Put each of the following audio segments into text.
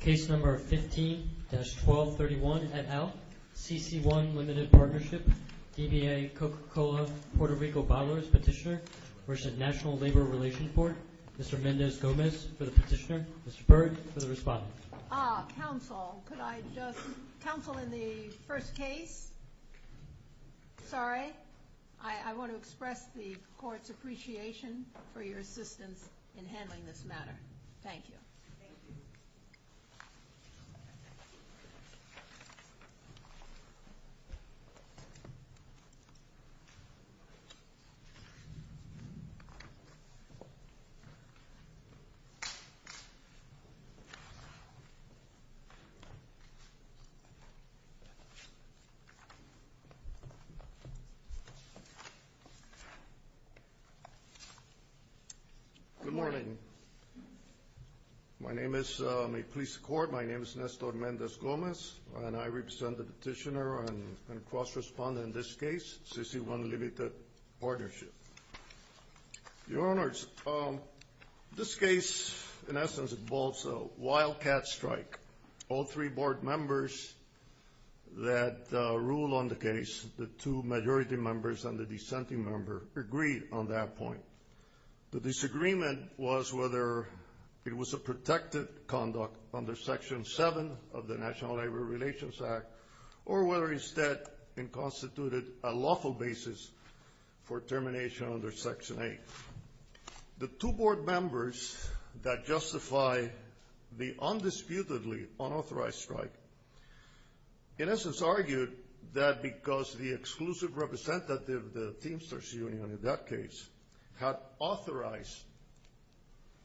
Case No. 15-1231 et al., CC1 Limited Partnership, DBA Coca-Cola Puerto Rico bottlers, Petitioner, National Labor Relations Board, Mr. Mendez Gomez for the petitioner, Mr. Byrd for the respondent. Ah, counsel, could I just, counsel in the first case, sorry, I want to express the court's appreciation for your assistance in handling this matter. Thank you. Good morning. My name is, may it please the court, my name is Nestor Mendez Gomez, and I represent the petitioner and cross-respondent in this case, CC1 Limited Partnership. Your Honors, this case, in essence, involves a wildcat strike. All three board members that rule on the case, the two majority members and the dissenting member, agreed on that point. The disagreement was whether it was a protected conduct under Section 7 of the National Labor Relations Act, or whether instead it constituted a lawful basis for termination under Section 8. The two board members that justify the undisputedly unauthorized strike, in essence argued that because the exclusive representative, the Teamsters Union in that case, had authorized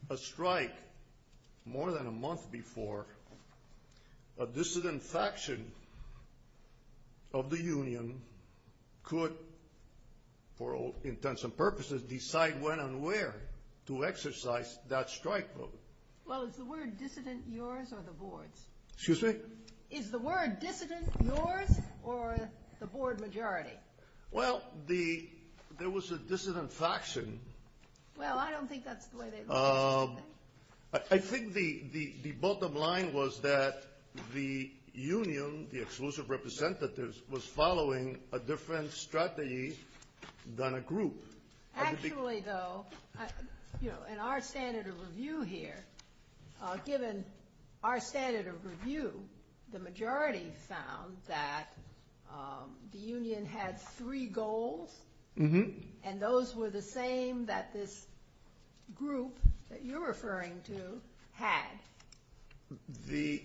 a strike more than a month before, a dissident faction of the union could, for all intents and purposes, decide when and where to exercise that strike vote. Well, is the word dissident yours or the board's? Excuse me? Is the word dissident yours or the board majority? Well, there was a dissident faction. Well, I don't think that's the way they look at it. I think the bottom line was that the union, the exclusive representatives, was following a different strategy than a group. Actually, though, you know, in our standard of review here, given our standard of review, the majority found that the union had three goals, and those were the same that this group that you're referring to had. The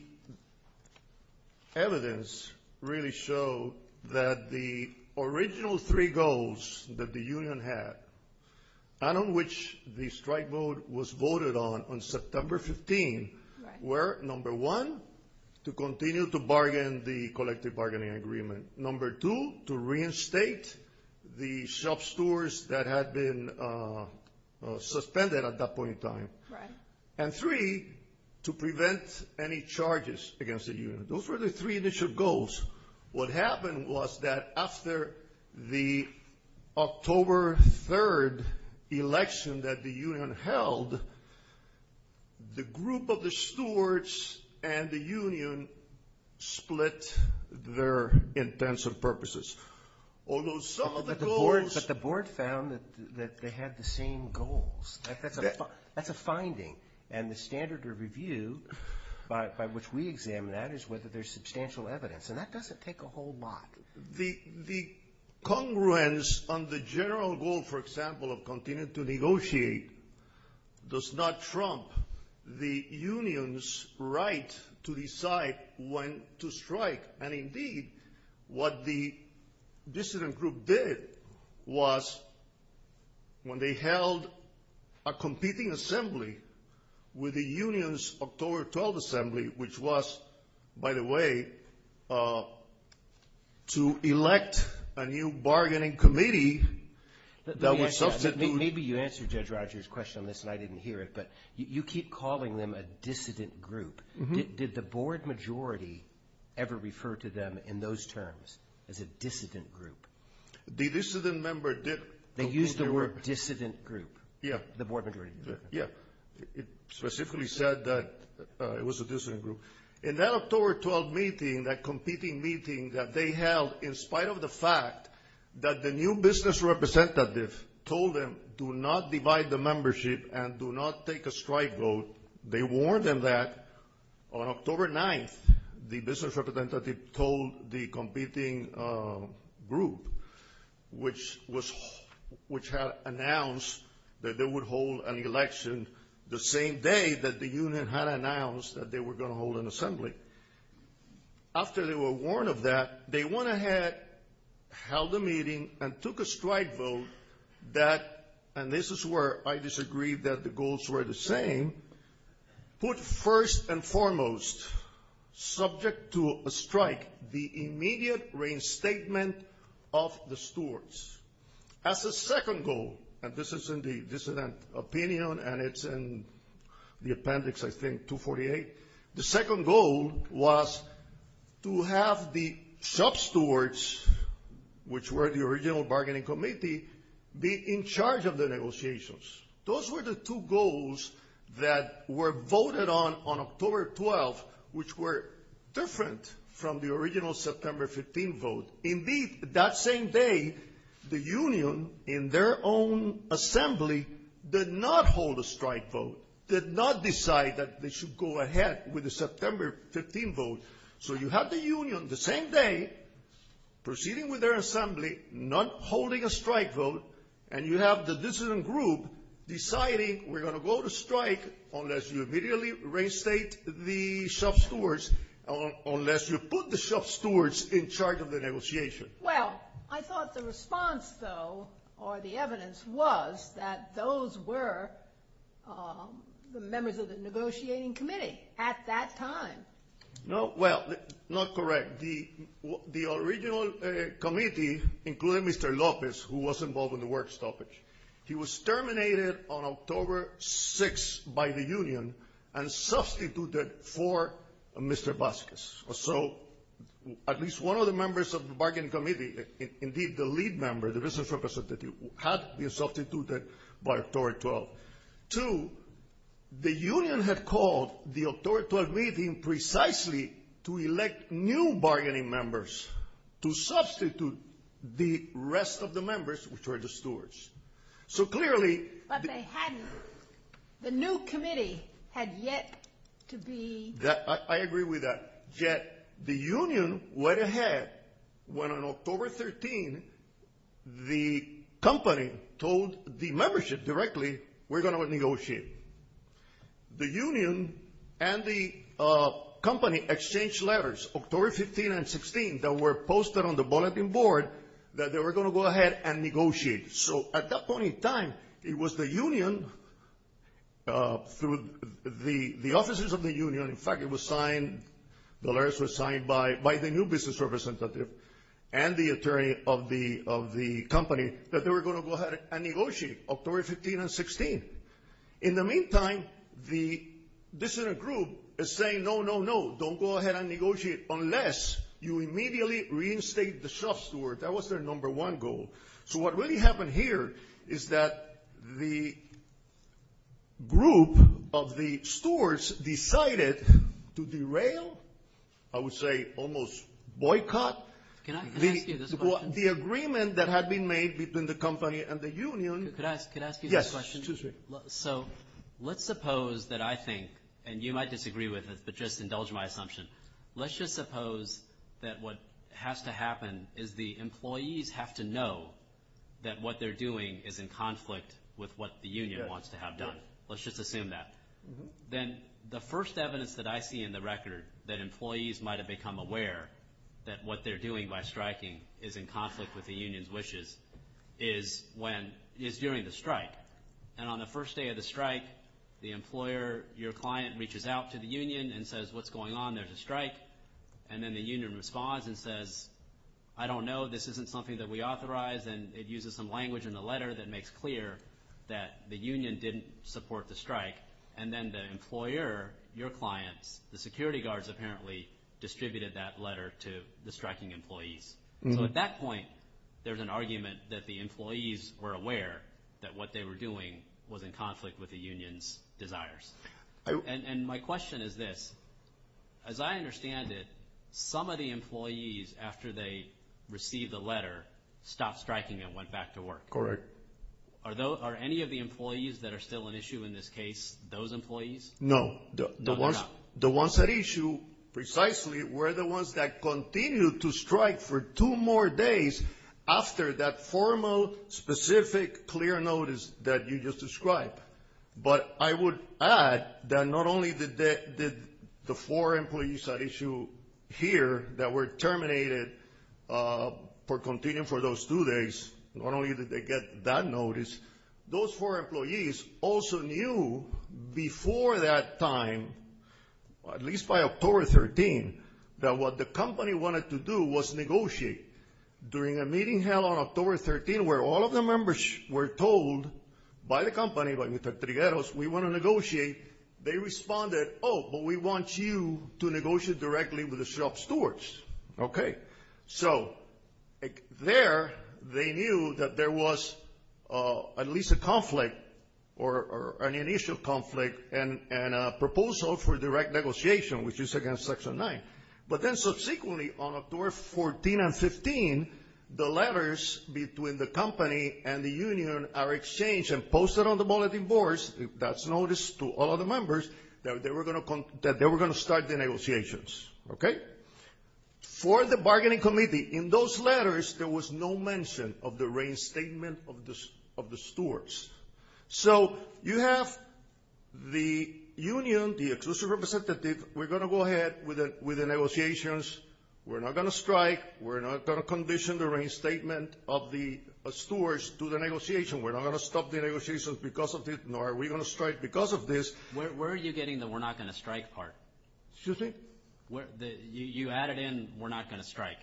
evidence really showed that the original three goals that the union had, and on which the strike vote was voted on on September 15, were, number one, to continue to bargain the collective bargaining agreement, number two, to reinstate the shop stores that had been suspended at that point in time, and three, to prevent any charges against the union. Those were the three initial goals. What happened was that after the October 3 election that the union held, the group of the stewards and the union split their intents and purposes. Although some of the goals – But the board found that they had the same goals. That's a finding. And the standard of review by which we examine that is whether there's substantial evidence. And that doesn't take a whole lot. The congruence on the general goal, for example, of continuing to negotiate, does not trump the union's right to decide when to strike. And, indeed, what the dissident group did was when they held a competing assembly with the union's October 12 assembly, which was, by the way, to elect a new bargaining committee that would substitute – Maybe you answered Judge Rogers' question on this and I didn't hear it, but you keep calling them a dissident group. Did the board majority ever refer to them in those terms as a dissident group? The dissident member did. They used the word dissident group. Yeah. The board majority. Yeah. It specifically said that it was a dissident group. In that October 12 meeting, that competing meeting that they held, in spite of the fact that the new business representative told them, do not divide the membership and do not take a strike vote, they warned them that on October 9th the business representative told the competing group, which had announced that they would hold an election the same day that the union had announced that they were going to hold an assembly. After they were warned of that, they went ahead, held a meeting, and took a strike vote that – and this is where I disagree that the goals were the same – put first and foremost, subject to a strike, the immediate reinstatement of the stewards. As a second goal, and this is in the dissident opinion and it's in the appendix, I think, 248, the second goal was to have the sub-stewards, which were the original bargaining committee, be in charge of the negotiations. Those were the two goals that were voted on on October 12, which were different from the original September 15 vote. Indeed, that same day, the union, in their own assembly, did not hold a strike vote, did not decide that they should go ahead with the September 15 vote. So you have the union, the same day, proceeding with their assembly, not holding a strike vote, and you have the dissident group deciding we're going to go to strike unless you immediately reinstate the sub-stewards, unless you put the sub-stewards in charge of the negotiation. Well, I thought the response, though, or the evidence, was that those were the members of the negotiating committee at that time. No, well, not correct. The original committee included Mr. Lopez, who was involved in the work stoppage. He was terminated on October 6 by the union and substituted for Mr. Vasquez. So at least one of the members of the bargaining committee, indeed the lead member, the business representative, had been substituted by October 12. Two, the union had called the October 12 meeting precisely to elect new bargaining members to substitute the rest of the members, which were the stewards. So clearly the new committee had yet to be... I agree with that. Yet the union went ahead when, on October 13, the company told the membership directly, we're going to negotiate. The union and the company exchanged letters, October 15 and 16, that were posted on the bulletin board that they were going to go ahead and negotiate. So at that point in time, it was the union, through the offices of the union. In fact, it was signed, the letters were signed by the new business representative and the attorney of the company that they were going to go ahead and negotiate October 15 and 16. In the meantime, the dissident group is saying, no, no, no, don't go ahead and negotiate unless you immediately reinstate the shop steward. That was their number one goal. So what really happened here is that the group of the stewards decided to derail, I would say almost boycott... Can I ask you this question? The agreement that had been made between the company and the union... Could I ask you this question? Yes. So let's suppose that I think, and you might disagree with this, but just indulge my assumption. Let's just suppose that what has to happen is the employees have to know that what they're doing is in conflict with what the union wants to have done. Let's just assume that. Then the first evidence that I see in the record that employees might have become aware that what they're doing by striking is in conflict with the union's wishes is during the strike. And on the first day of the strike, the employer, your client, reaches out to the union and says, what's going on? There's a strike. And then the union responds and says, I don't know. This isn't something that we authorize. And it uses some language in the letter that makes clear that the union didn't support the strike. And then the employer, your clients, the security guards apparently distributed that letter to the striking employees. So at that point, there's an argument that the employees were aware that what they were doing was in conflict with the union's desires. And my question is this. As I understand it, some of the employees, after they received the letter, stopped striking and went back to work. Correct. Are any of the employees that are still an issue in this case those employees? No. No, they're not. The ones at issue precisely were the ones that continued to strike for two more days after that formal, specific, clear notice that you just described. But I would add that not only did the four employees at issue here that were terminated for continuing for those two days, not only did they get that notice, those four employees also knew before that time, at least by October 13, that what the company wanted to do was negotiate during a meeting held on October 13 where all of the members were told by the company, by Mr. Trigueros, we want to negotiate. They responded, oh, but we want you to negotiate directly with the shop stewards. Okay. So there they knew that there was at least a conflict or an initial conflict and a proposal for direct negotiation, which is against Section 9. But then subsequently on October 14 and 15, the letters between the company and the union are exchanged and posted on the bulletin boards, that's notice to all of the members, that they were going to start the negotiations. Okay. For the bargaining committee, in those letters, there was no mention of the reinstatement of the stewards. So you have the union, the exclusive representative, we're going to go ahead with the negotiations. We're not going to strike. We're not going to condition the reinstatement of the stewards to the negotiation. We're not going to stop the negotiations because of it, nor are we going to strike because of this. Where are you getting the we're not going to strike part? Excuse me? You added in we're not going to strike,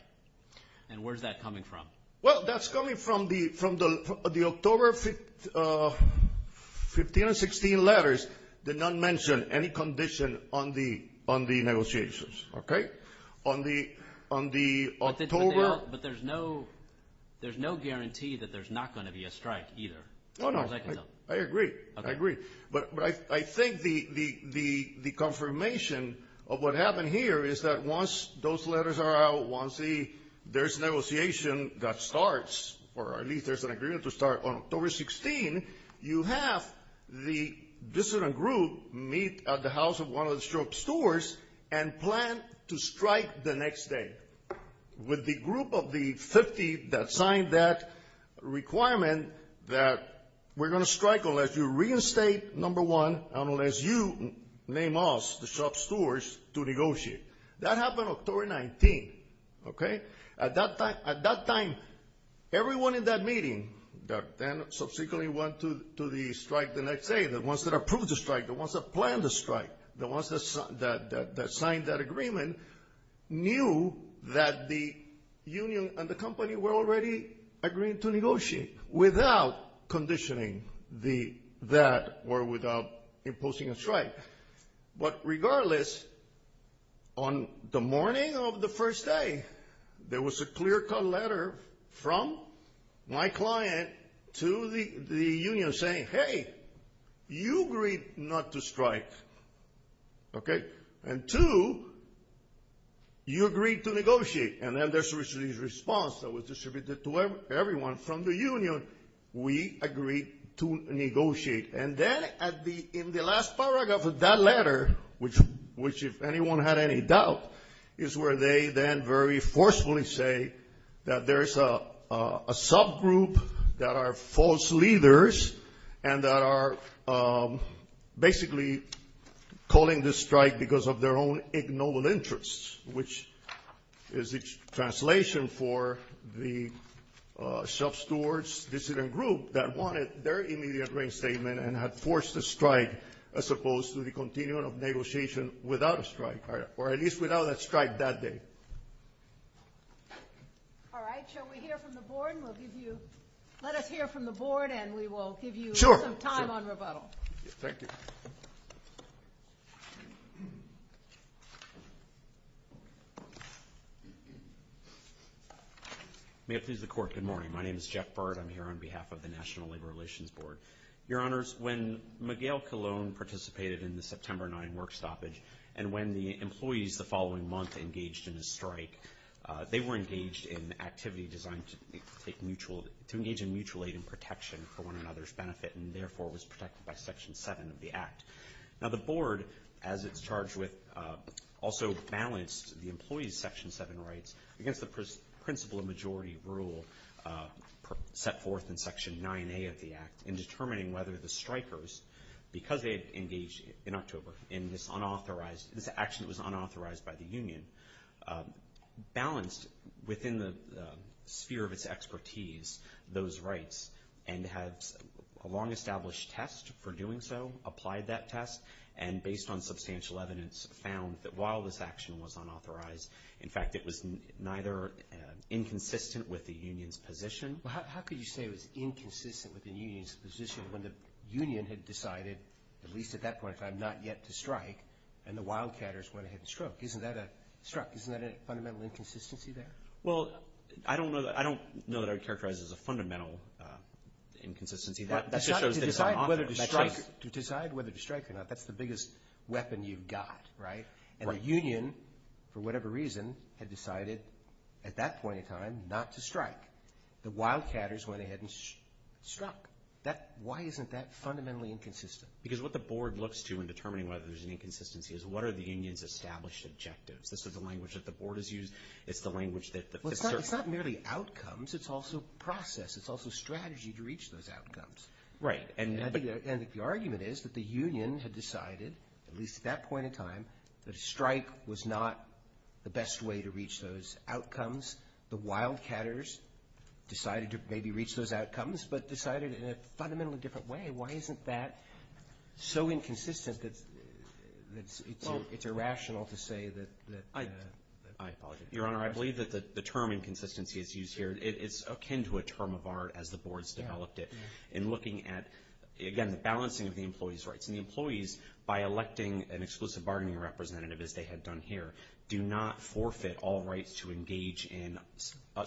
and where's that coming from? Well, that's coming from the October 15 and 16 letters did not mention any condition on the negotiations. Okay? On the October. But there's no guarantee that there's not going to be a strike either. Oh, no. I agree. I agree. But I think the confirmation of what happened here is that once those letters are out, once there's negotiation that starts, or at least there's an agreement to start on October 16, you have the dissident group meet at the house of one of the stewards and plan to strike the next day with the group of the 50 that signed that requirement and that we're going to strike unless you reinstate number one and unless you name us, the shop stewards, to negotiate. That happened October 19. Okay? At that time, everyone in that meeting that then subsequently went to the strike the next day, the ones that approved the strike, the ones that planned the strike, the ones that signed that agreement, knew that the union and the company were already agreeing to negotiate without conditioning that or without imposing a strike. But regardless, on the morning of the first day, there was a clear-cut letter from my client to the union saying, hey, you agreed not to strike. Okay? And two, you agreed to negotiate. And then there's a response that was distributed to everyone from the union. We agreed to negotiate. And then in the last paragraph of that letter, which if anyone had any doubt, is where they then very forcefully say that there's a subgroup that are false leaders and that are basically calling this strike because of their own ignoble interests, which is the translation for the shop stewards' dissident group that wanted their immediate reinstatement and had forced the strike as opposed to the continuing of negotiation without a strike, or at least without a strike that day. All right. Shall we hear from the board? Let us hear from the board, and we will give you some time on rebuttal. Thank you. May it please the Court, good morning. My name is Jeff Bard. I'm here on behalf of the National Labor Relations Board. Your Honors, when Miguel Colon participated in the September 9 work stoppage and when the employees the following month engaged in a strike, they were engaged in activity designed to engage in mutual aid and protection for one another's benefit and therefore was protected by Section 7 of the Act. Now the board, as it's charged with, also balanced the employees' Section 7 rights against the principle majority rule set forth in Section 9A of the Act in determining whether the strikers, because they had engaged in October in this action that was unauthorized by the union, balanced within the sphere of its expertise those rights and had a long-established test for doing so, applied that test, and based on substantial evidence found that while this action was unauthorized, in fact it was neither inconsistent with the union's position. Well, how could you say it was inconsistent with the union's position when the union had decided, at least at that point in time, not yet to strike and the wildcatters went ahead and struck? Isn't that a fundamental inconsistency there? Well, I don't know that I would characterize it as a fundamental inconsistency. To decide whether to strike or not, that's the biggest weapon you've got, right? And the union, for whatever reason, had decided at that point in time not to strike. The wildcatters went ahead and struck. Why isn't that fundamentally inconsistent? Because what the board looks to in determining whether there's an inconsistency is what are the union's established objectives? This is the language that the board has used. It's the language that the circuit has used. Well, it's not merely outcomes. It's also process. It's also strategy to reach those outcomes. Right. And the argument is that the union had decided, at least at that point in time, that a strike was not the best way to reach those outcomes. The wildcatters decided to maybe reach those outcomes, but decided in a fundamentally different way. Why isn't that so inconsistent that it's irrational to say that the ---- I apologize. Your Honor, I believe that the term inconsistency is used here. It's akin to a term of art as the board's developed it. In looking at, again, the balancing of the employee's rights. And the employees, by electing an exclusive bargaining representative, as they had done here, do not forfeit all rights to engage in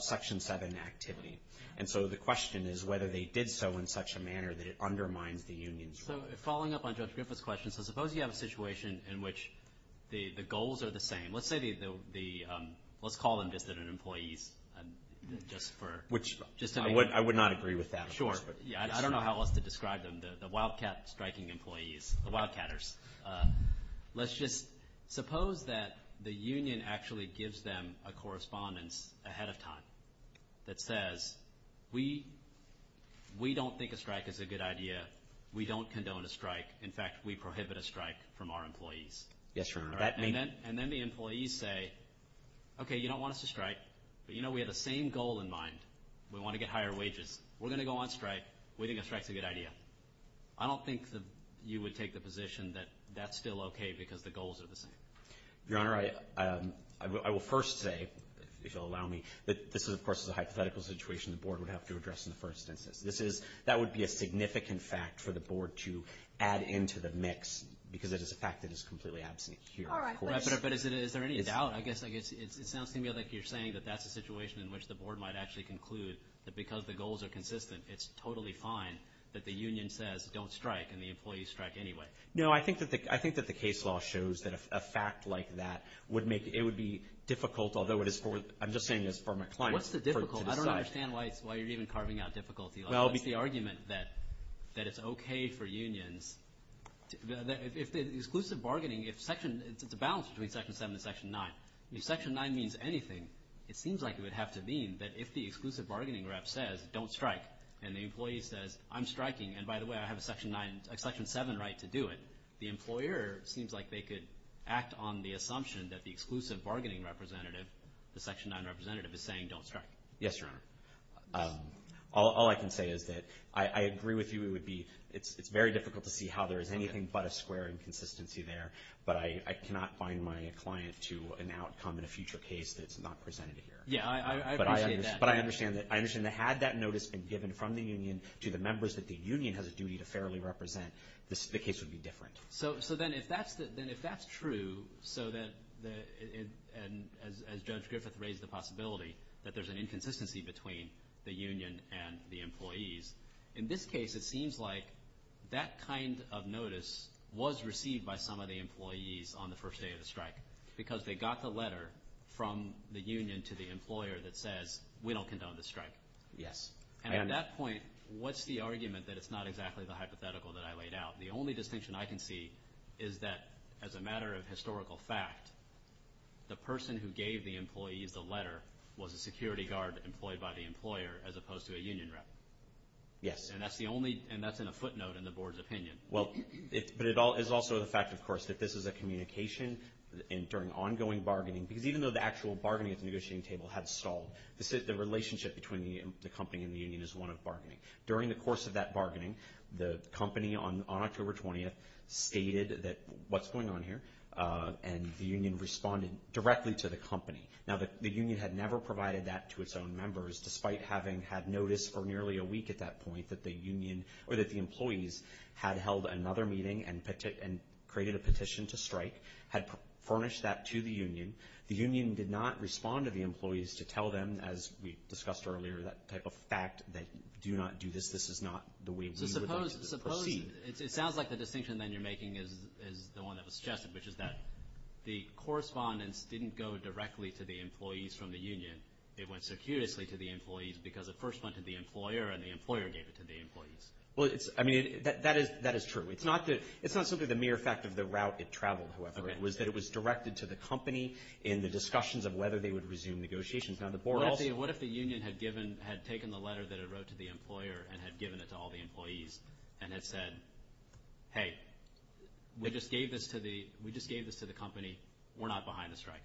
Section 7 activity. And so the question is whether they did so in such a manner that it undermines the union's rights. So following up on Judge Griffith's question, so suppose you have a situation in which the goals are the same. Let's say the ---- let's call them just that an employee's just for ---- Which I would not agree with that. Sure. I don't know how else to describe them, the wildcat striking employees, the wildcatters. Let's just suppose that the union actually gives them a correspondence ahead of time that says, we don't think a strike is a good idea. We don't condone a strike. In fact, we prohibit a strike from our employees. Yes, Your Honor. And then the employees say, okay, you don't want us to strike, but you know we have the same goal in mind. We want to get higher wages. We're going to go on strike. We think a strike is a good idea. I don't think that you would take the position that that's still okay because the goals are the same. Your Honor, I will first say, if you'll allow me, that this is, of course, a hypothetical situation the Board would have to address in the first instance. That would be a significant fact for the Board to add into the mix because it is a fact that is completely absent here. But is there any doubt? I guess it sounds to me like you're saying that that's a situation in which the Board might actually conclude that because the goals are consistent, it's totally fine that the union says don't strike and the employees strike anyway. No, I think that the case law shows that a fact like that would make it would be difficult, although I'm just saying this for my client to decide. What's the difficulty? I don't understand why you're even carving out difficulty. What's the argument that it's okay for unions? If the exclusive bargaining, if it's a balance between Section 7 and Section 9, if Section 9 means anything, it seems like it would have to mean that if the exclusive bargaining rep says don't strike and the employee says I'm striking and, by the way, I have a Section 7 right to do it, the employer seems like they could act on the assumption that the exclusive bargaining representative, the Section 9 representative, is saying don't strike. Yes, Your Honor. All I can say is that I agree with you. It's very difficult to see how there is anything but a square inconsistency there, but I cannot bind my client to an outcome in a future case that's not presented here. Yeah, I appreciate that. But I understand that had that notice been given from the union to the members that the union has a duty to fairly represent, the case would be different. So then if that's true so that, as Judge Griffith raised the possibility, that there's an inconsistency between the union and the employees, in this case it seems like that kind of notice was received by some of the employees on the first day of the strike because they got the letter from the union to the employer that says we don't condone the strike. Yes. And at that point, what's the argument that it's not exactly the hypothetical that I laid out? The only distinction I can see is that as a matter of historical fact, the person who gave the employees the letter was a security guard employed by the employer as opposed to a union rep. Yes. And that's in a footnote in the board's opinion. Well, but it's also the fact, of course, that this is a communication during ongoing bargaining because even though the actual bargaining at the negotiating table had stalled, the relationship between the company and the union is one of bargaining. During the course of that bargaining, the company on October 20th stated that what's going on here and the union responded directly to the company. Now, the union had never provided that to its own members despite having had notice for nearly a week at that point that the union or that the employees had held another meeting and created a petition to strike, had furnished that to the union. The union did not respond to the employees to tell them, as we discussed earlier, that type of fact that do not do this. This is not the way we would like to proceed. It sounds like the distinction then you're making is the one that was suggested, which is that the correspondence didn't go directly to the employees from the union. It went circuitously to the employees because it first went to the employer, and the employer gave it to the employees. Well, I mean, that is true. It's not simply the mere fact of the route it traveled, however. It was that it was directed to the company in the discussions of whether they would resume negotiations. Now, the board also— Hey, we just gave this to the company. We're not behind the strike.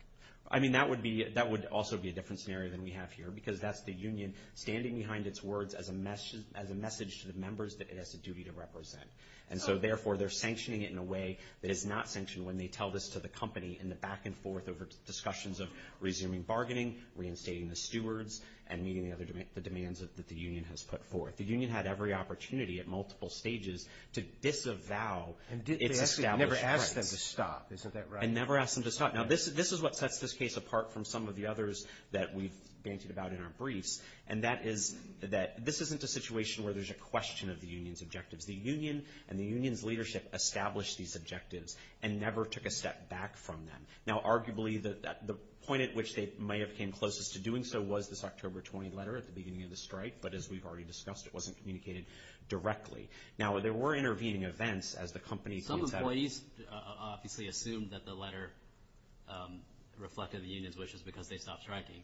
I mean, that would be—that would also be a different scenario than we have here because that's the union standing behind its words as a message to the members that it has a duty to represent. And so, therefore, they're sanctioning it in a way that is not sanctioned when they tell this to the company in the back and forth over discussions of resuming bargaining, reinstating the stewards, and meeting the demands that the union has put forth. The union had every opportunity at multiple stages to disavow its established rights. And never asked them to stop. Isn't that right? And never asked them to stop. Now, this is what sets this case apart from some of the others that we've bantered about in our briefs, and that is that this isn't a situation where there's a question of the union's objectives. The union and the union's leadership established these objectives and never took a step back from them. Now, arguably, the point at which they may have came closest to doing so was this October 20 letter at the beginning of the strike, but as we've already discussed, it wasn't communicated directly. Now, there were intervening events as the company. Some employees obviously assumed that the letter reflected the union's wishes because they stopped striking,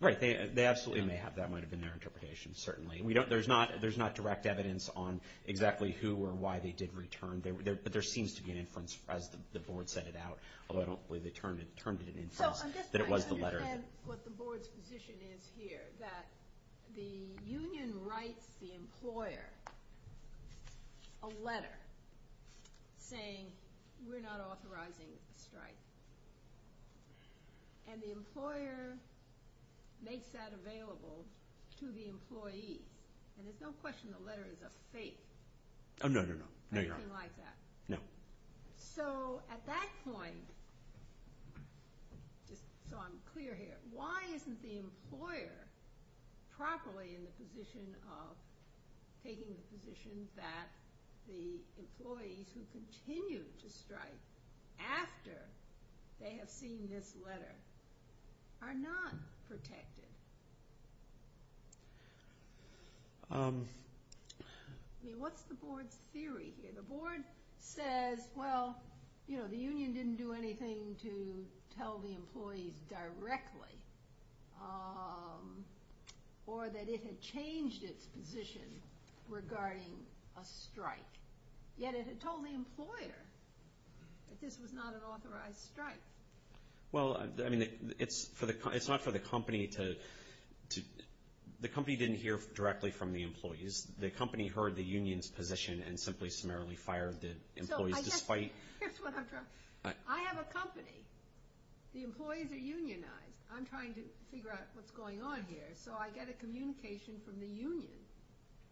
right? Right. They absolutely may have. That might have been their interpretation, certainly. There's not direct evidence on exactly who or why they did return, but there seems to be an inference as the board set it out, although I don't believe they termed it an inference. I'm just trying to understand what the board's position is here, that the union writes the employer a letter saying, we're not authorizing a strike, and the employer makes that available to the employee, and there's no question the letter is a fake. Oh, no, no, no. Nothing like that. No. So at that point, just so I'm clear here, why isn't the employer properly in the position of taking the position that the employees who continue to strike after they have seen this letter are not protected? I mean, what's the board's theory here? The board says, well, you know, the union didn't do anything to tell the employees directly, or that it had changed its position regarding a strike, yet it had told the employer that this was not an authorized strike. Well, I mean, it's not for the company to — the company didn't hear directly from the employees. The company heard the union's position and simply summarily fired the employees despite — Here's what I'm trying to — I have a company. The employees are unionized. I'm trying to figure out what's going on here, so I get a communication from the union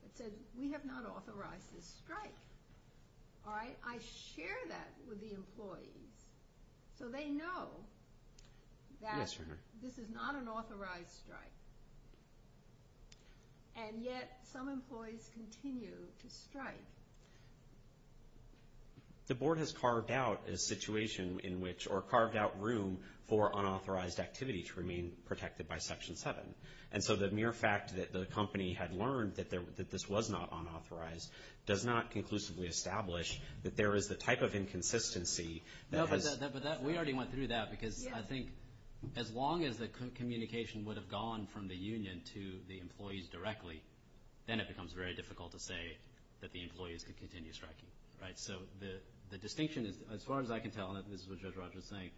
that said, we have not authorized this strike. All right? I share that with the employees so they know that this is not an authorized strike, and yet some employees continue to strike. The board has carved out a situation in which — or carved out room for unauthorized activity to remain protected by Section 7, and so the mere fact that the company had learned that this was not unauthorized does not conclusively establish that there is the type of inconsistency that has — No, but that — we already went through that, because I think as long as the communication would have gone from the union to the employees directly, then it becomes very difficult to say that the employees could continue striking. Right? So the distinction is, as far as I can tell, and this is what Judge Rogers is saying,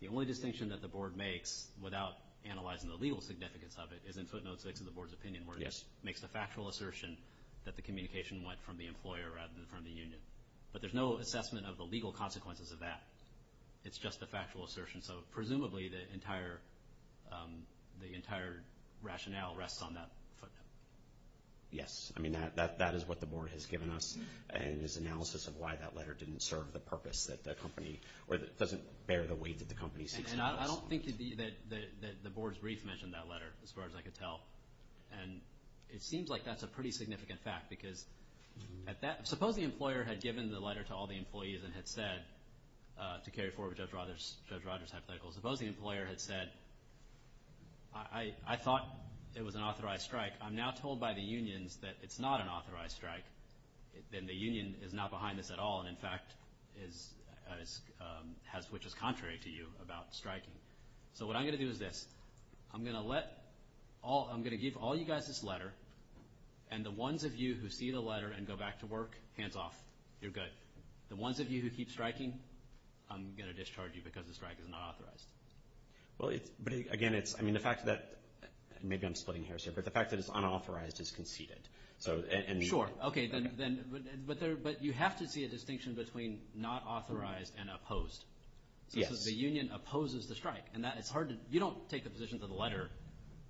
the only distinction that the board makes without analyzing the legal significance of it is in footnotes 6 of the board's opinion, where it makes the factual assertion that the communication went from the employer rather than from the union. But there's no assessment of the legal consequences of that. It's just a factual assertion. So presumably the entire rationale rests on that footnote. Yes. I mean, that is what the board has given us, and its analysis of why that letter didn't serve the purpose that the company — or doesn't bear the weight that the company seeks to address. And I don't think that the board's brief mentioned that letter, as far as I could tell. And it seems like that's a pretty significant fact, because at that — to carry forward Judge Rogers' hypothetical, suppose the employer had said, I thought it was an authorized strike. I'm now told by the unions that it's not an authorized strike, and the union is not behind this at all and, in fact, is — which is contrary to you about striking. So what I'm going to do is this. I'm going to let all — I'm going to give all you guys this letter, and the ones of you who see the letter and go back to work, hands off. You're good. The ones of you who keep striking, I'm going to discharge you because the strike is not authorized. Well, it's — but, again, it's — I mean, the fact that — maybe I'm splitting hairs here, but the fact that it's unauthorized is conceded. So — Sure. Okay, then — but you have to see a distinction between not authorized and opposed. Yes. So the union opposes the strike, and that — it's hard to — you don't take the position that the letter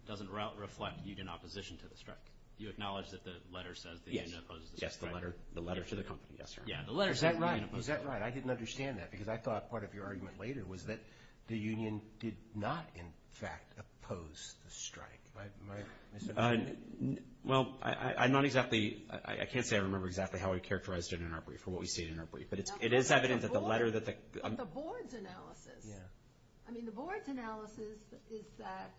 doesn't reflect union opposition to the strike. You acknowledge that the letter says the union opposes the strike. Yes. Yes, the letter. The letter to the company. Yes, sir. Yeah, the letter. Is that right? Is that right? I didn't understand that because I thought part of your argument later was that the union did not, in fact, oppose the strike. Am I — Well, I'm not exactly — I can't say I remember exactly how we characterized it in our brief or what we see in our brief, but it is evident that the letter that the — But the board's analysis. Yeah. I mean, the board's analysis is that,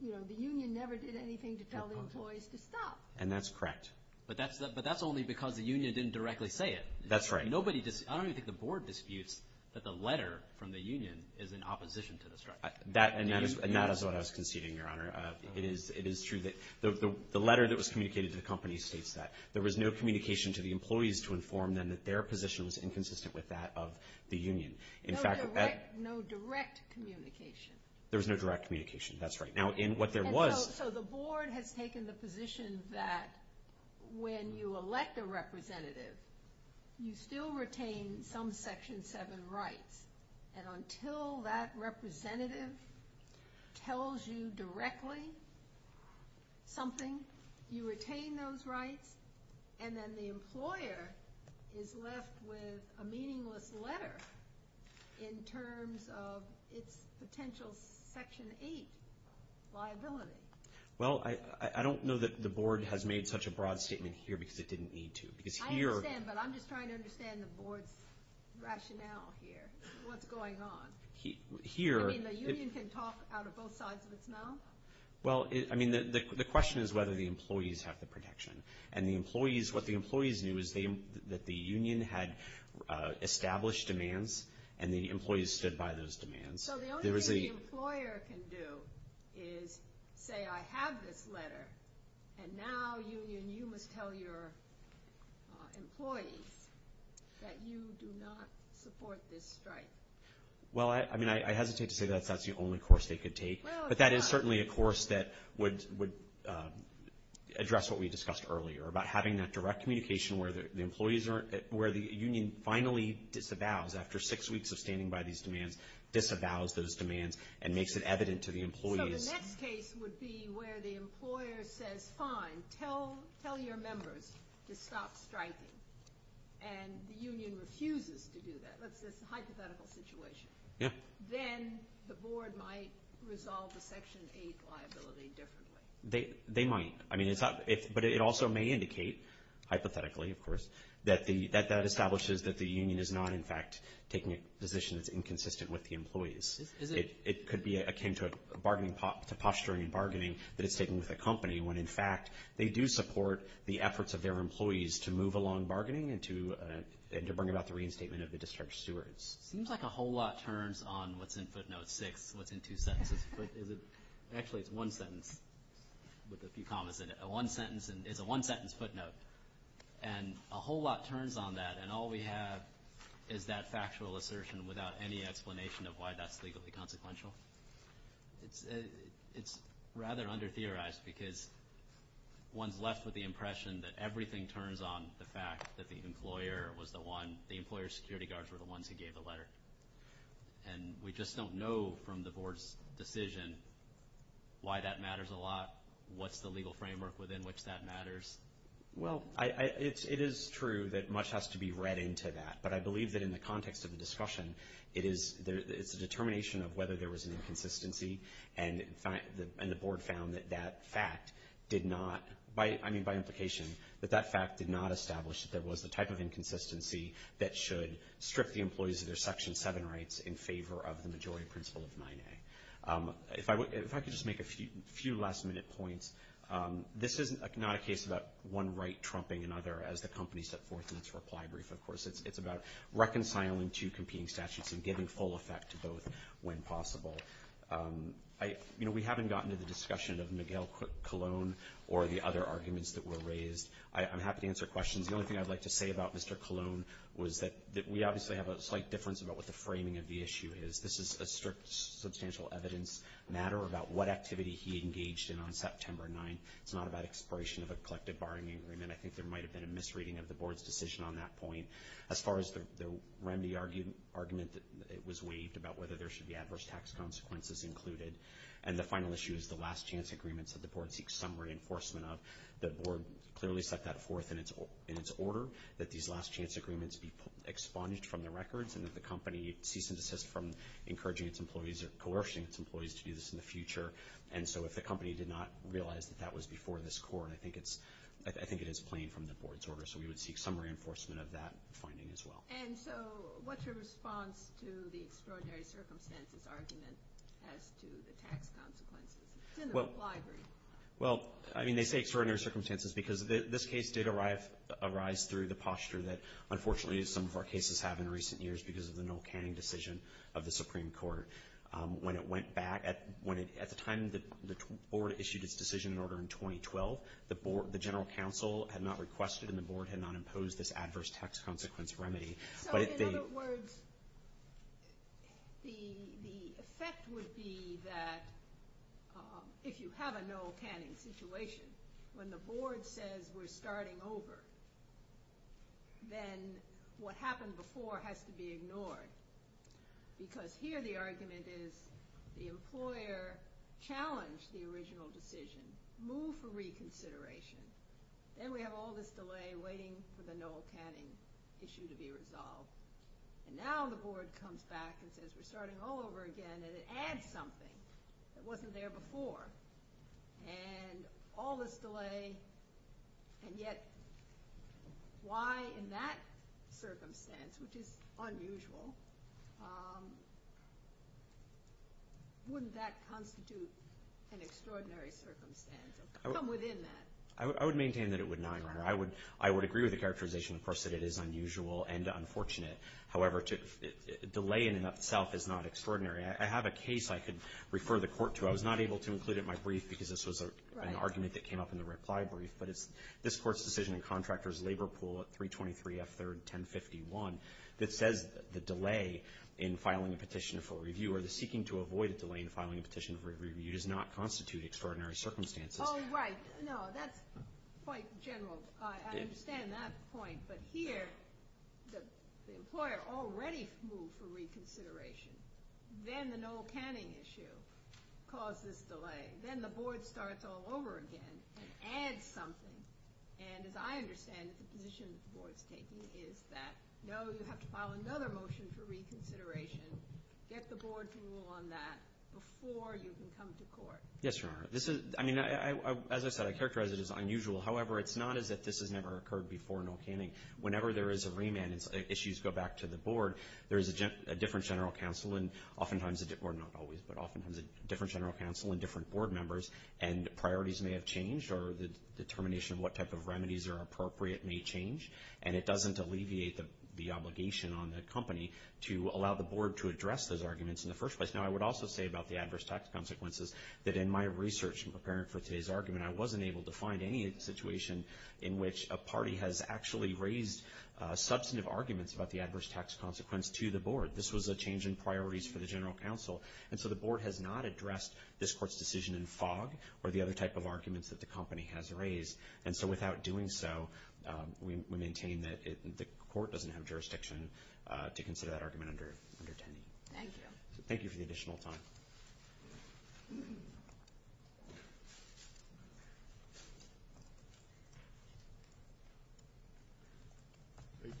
you know, the union never did anything to tell employees to stop. And that's correct. But that's only because the union didn't directly say it. That's right. Nobody — I don't even think the board disputes that the letter from the union is in opposition to the strike. And that is what I was conceding, Your Honor. It is true that the letter that was communicated to the company states that. There was no communication to the employees to inform them that their position was inconsistent with that of the union. In fact — No direct communication. There was no direct communication. That's right. Now, in what there was — So the board has taken the position that when you elect a representative, you still retain some Section 7 rights. And until that representative tells you directly something, you retain those rights, and then the employer is left with a meaningless letter in terms of its potential Section 8 liability. Well, I don't know that the board has made such a broad statement here because it didn't need to. Because here — I understand, but I'm just trying to understand the board's rationale here, what's going on. Here — I mean, the union can talk out of both sides of its mouth. Well, I mean, the question is whether the employees have the protection. And the employees — what the employees knew is that the union had established demands, and the employees stood by those demands. So the only thing the employer can do is say, I have this letter, and now, union, you must tell your employees that you do not support this strike. Well, I mean, I hesitate to say that's the only course they could take. But that is certainly a course that would address what we discussed earlier about having that direct communication where the union finally disavows, after six weeks of standing by these demands, disavows those demands and makes it evident to the employees. So the next case would be where the employer says, fine, tell your members to stop striking. And the union refuses to do that. That's a hypothetical situation. Yeah. Then the board might resolve the Section 8 liability differently. They might. I mean, it's not — but it also may indicate, hypothetically, of course, that that establishes that the union is not, in fact, taking a position that's inconsistent with the employees. It could be akin to a bargaining — to posturing and bargaining that it's taking with a company, when, in fact, they do support the efforts of their employees to move along bargaining and to bring about the reinstatement of the discharge stewards. It seems like a whole lot turns on what's in footnote 6, what's in two sentences. But is it — actually, it's one sentence with a few commas in it. A one-sentence — it's a one-sentence footnote. And a whole lot turns on that, and all we have is that factual assertion without any explanation of why that's legally consequential. It's rather under-theorized because one's left with the impression that everything turns on the fact that the employer was the one — the employer's security guards were the ones who gave the letter. And we just don't know from the Board's decision why that matters a lot, what's the legal framework within which that matters. Well, it is true that much has to be read into that, but I believe that in the context of the discussion, it is — it's a determination of whether there was an inconsistency, and the Board found that that fact did not — I mean, by implication, that that fact did not establish that there was the type of inconsistency that should strip the employees of their Section 7 rights in favor of the majority principle of 9A. If I could just make a few last-minute points, this is not a case about one right trumping another as the company set forth in its reply brief, of course. It's about reconciling two competing statutes and giving full effect to both when possible. You know, we haven't gotten to the discussion of Miguel Colon or the other arguments that were raised. I'm happy to answer questions. The only thing I'd like to say about Mr. Colon was that we obviously have a slight difference about what the framing of the issue is. This is a strict, substantial evidence matter about what activity he engaged in on September 9th. It's not about expiration of a collective barring agreement. I think there might have been a misreading of the Board's decision on that point. As far as the remedy argument, it was waived about whether there should be adverse tax consequences included. And the final issue is the last-chance agreements that the Board seeks some reinforcement of. The Board clearly set that forth in its order that these last-chance agreements be expunged from the records and that the company cease and desist from encouraging its employees or coercing its employees to do this in the future. And so if the company did not realize that that was before this Court, I think it is plain from the Board's order. So we would seek some reinforcement of that finding as well. And so what's your response to the extraordinary circumstances argument as to the tax consequences? It's in the reply brief. Well, I mean, they say extraordinary circumstances because this case did arise through the posture that, unfortunately, some of our cases have in recent years because of the Noel Canning decision of the Supreme Court. When it went back, at the time the Board issued its decision in order in 2012, the General Counsel had not requested and the Board had not imposed this adverse tax consequence remedy. So in other words, the effect would be that if you have a Noel Canning situation, when the Board says we're starting over, then what happened before has to be ignored. Because here the argument is the employer challenged the original decision, moved for reconsideration. Then we have all this delay waiting for the Noel Canning issue to be resolved. And now the Board comes back and says we're starting all over again, and it adds something that wasn't there before. And all this delay, and yet why in that circumstance, which is unusual, wouldn't that constitute an extraordinary circumstance? Come within that. I would maintain that it would not, Your Honor. I would agree with the characterization, of course, that it is unusual and unfortunate. However, delay in and of itself is not extraordinary. I have a case I could refer the Court to. I was not able to include it in my brief because this was an argument that came up in the reply brief. But it's this Court's decision in Contractor's Labor Pool at 323 F. 3rd, 1051, that says the delay in filing a petition for review or the seeking to avoid a delay in filing a petition for review does not constitute extraordinary circumstances. Oh, right. No, that's quite general. I understand that point. But here, the employer already moved for reconsideration. Then the Noel Canning issue caused this delay. Then the Board starts all over again and adds something. And as I understand it, the position the Board's taking is that, no, you have to file another motion for reconsideration, get the Board to rule on that before you can come to Court. Yes, Your Honor. I mean, as I said, I characterize it as unusual. However, it's not as if this has never occurred before, Noel Canning. Whenever there is a remand, issues go back to the Board. There is a different general counsel and oftentimes, well, not always, but oftentimes a different general counsel and different Board members, and priorities may have changed or the determination of what type of remedies are appropriate may change. And it doesn't alleviate the obligation on the company to allow the Board to address those arguments in the first place. Now, I would also say about the adverse tax consequences that in my research preparing for today's argument, I wasn't able to find any situation in which a party has actually raised substantive arguments about the adverse tax consequence to the Board. This was a change in priorities for the general counsel. And so the Board has not addressed this Court's decision in fog or the other type of arguments that the company has raised. And so without doing so, we maintain that the Court doesn't have jurisdiction to consider that argument under 10D. Thank you. Thank you for the additional time. Thank you.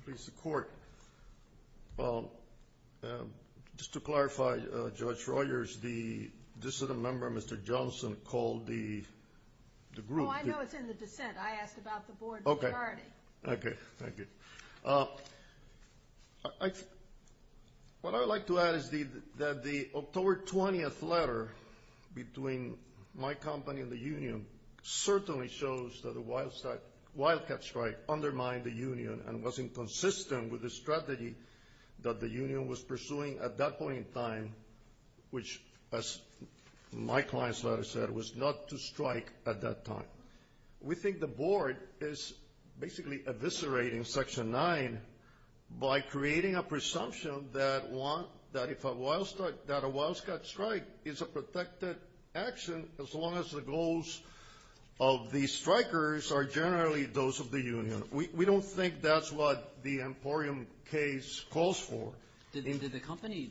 Please, the Court. Well, just to clarify, Judge Royers, the dissident member, Mr. Johnson, called the group. No, I know it's in the dissent. I asked about the Board's priority. Okay. Thank you. What I would like to add is that the October 20th letter between my company and the union certainly shows that a wildcat strike undermined the union and was inconsistent with the strategy that the union was pursuing at that point in time, which, as my client's letter said, was not to strike at that time. We think the Board is basically eviscerating Section 9 by creating a presumption that a wildcat strike is a protected action as long as the goals of the strikers are generally those of the union. We don't think that's what the Emporium case calls for. Did the company,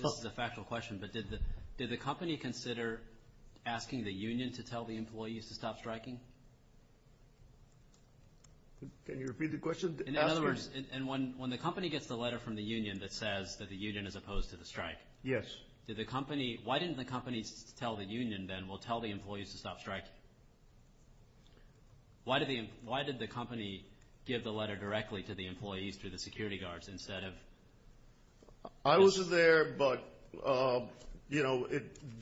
this is a factual question, but did the company consider asking the union to tell the employees to stop striking? Can you repeat the question? In other words, and when the company gets the letter from the union that says that the union is opposed to the strike. Yes. Did the company, why didn't the company tell the union then, well, tell the employees to stop striking? Why did the company give the letter directly to the employees, to the security guards, instead of? I wasn't there, but, you know,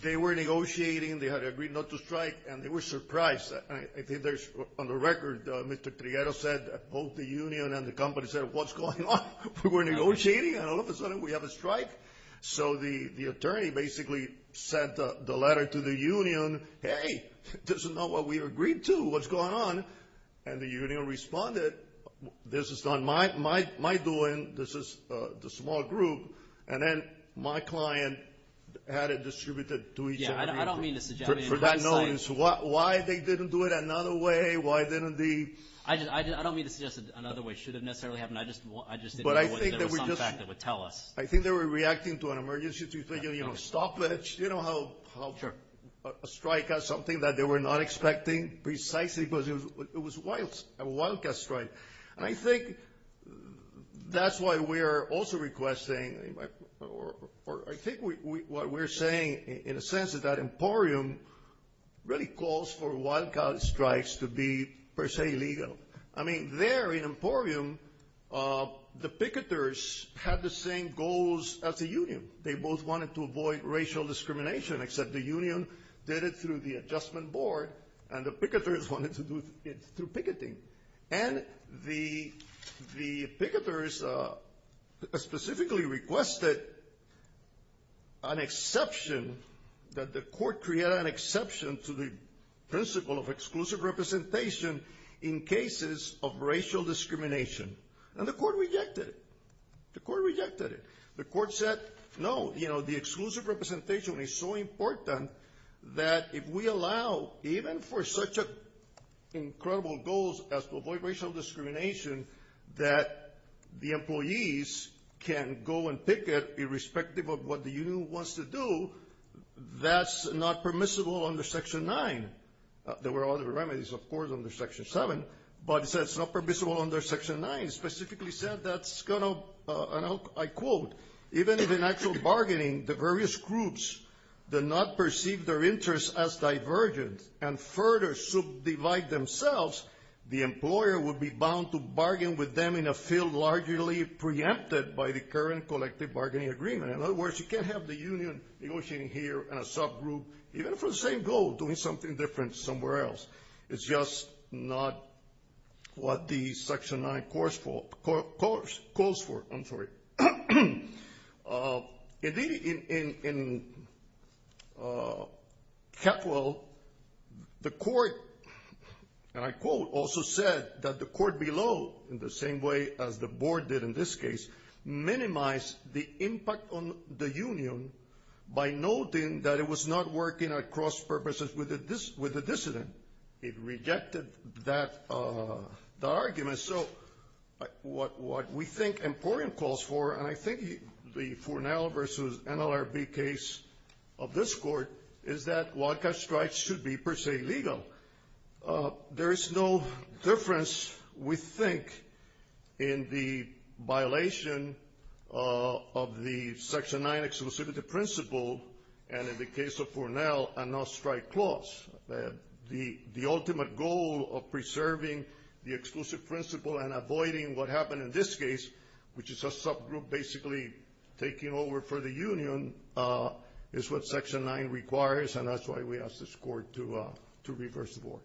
they were negotiating. They had agreed not to strike, and they were surprised. I think there's, on the record, Mr. Prieto said both the union and the company said, what's going on? We were negotiating, and all of a sudden we have a strike. So the attorney basically sent the letter to the union. Hey, this is not what we agreed to. What's going on? And the union responded, this is not my doing. This is the small group. And then my client had it distributed to each and every employee. Yeah, I don't mean to suggest. For that notice, why they didn't do it another way, why didn't the? I don't mean to suggest another way should have necessarily happened. I just didn't know whether there was some fact that would tell us. I think they were reacting to an emergency situation, you know, stop it. You know how a strike has something that they were not expecting precisely because it was a wildcat strike. And I think that's why we are also requesting, or I think what we're saying in a sense is that Emporium really calls for wildcat strikes to be per se legal. I mean, there in Emporium, the picketers had the same goals as the union. They both wanted to avoid racial discrimination, except the union did it through the adjustment board, and the picketers wanted to do it through picketing. And the picketers specifically requested an exception, that the court create an exception to the principle of exclusive representation in cases of racial discrimination. And the court rejected it. The court rejected it. The court said, no, you know, the exclusive representation is so important that if we allow, even for such incredible goals as to avoid racial discrimination, that the employees can go and picket irrespective of what the union wants to do, that's not permissible under Section 9. There were other remedies, of course, under Section 7, but it says it's not permissible under Section 9. It specifically said that's going to, I quote, even if in actual bargaining the various groups do not perceive their interests as divergent and further subdivide themselves, the employer would be bound to bargain with them in a field largely preempted by the current collective bargaining agreement. In other words, you can't have the union negotiating here in a subgroup, even for the same goal, doing something different somewhere else. It's just not what the Section 9 calls for. Indeed, in Catwell, the court, and I quote, also said that the court below, in the same way as the board did in this case, minimized the impact on the union by noting that it was not working at cross purposes with the dissident. It rejected that argument. So what we think Emporium calls for, and I think the Fournell versus NLRB case of this court, is that wildcat strikes should be per se legal. There is no difference, we think, in the violation of the Section 9 exclusivity principle, and in the case of Fournell, a no-strike clause. The ultimate goal of preserving the exclusive principle and avoiding what happened in this case, which is a subgroup basically taking over for the union, is what Section 9 requires, and that's why we asked this court to reverse the board.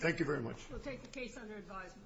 Thank you very much. We'll take the case under advisement.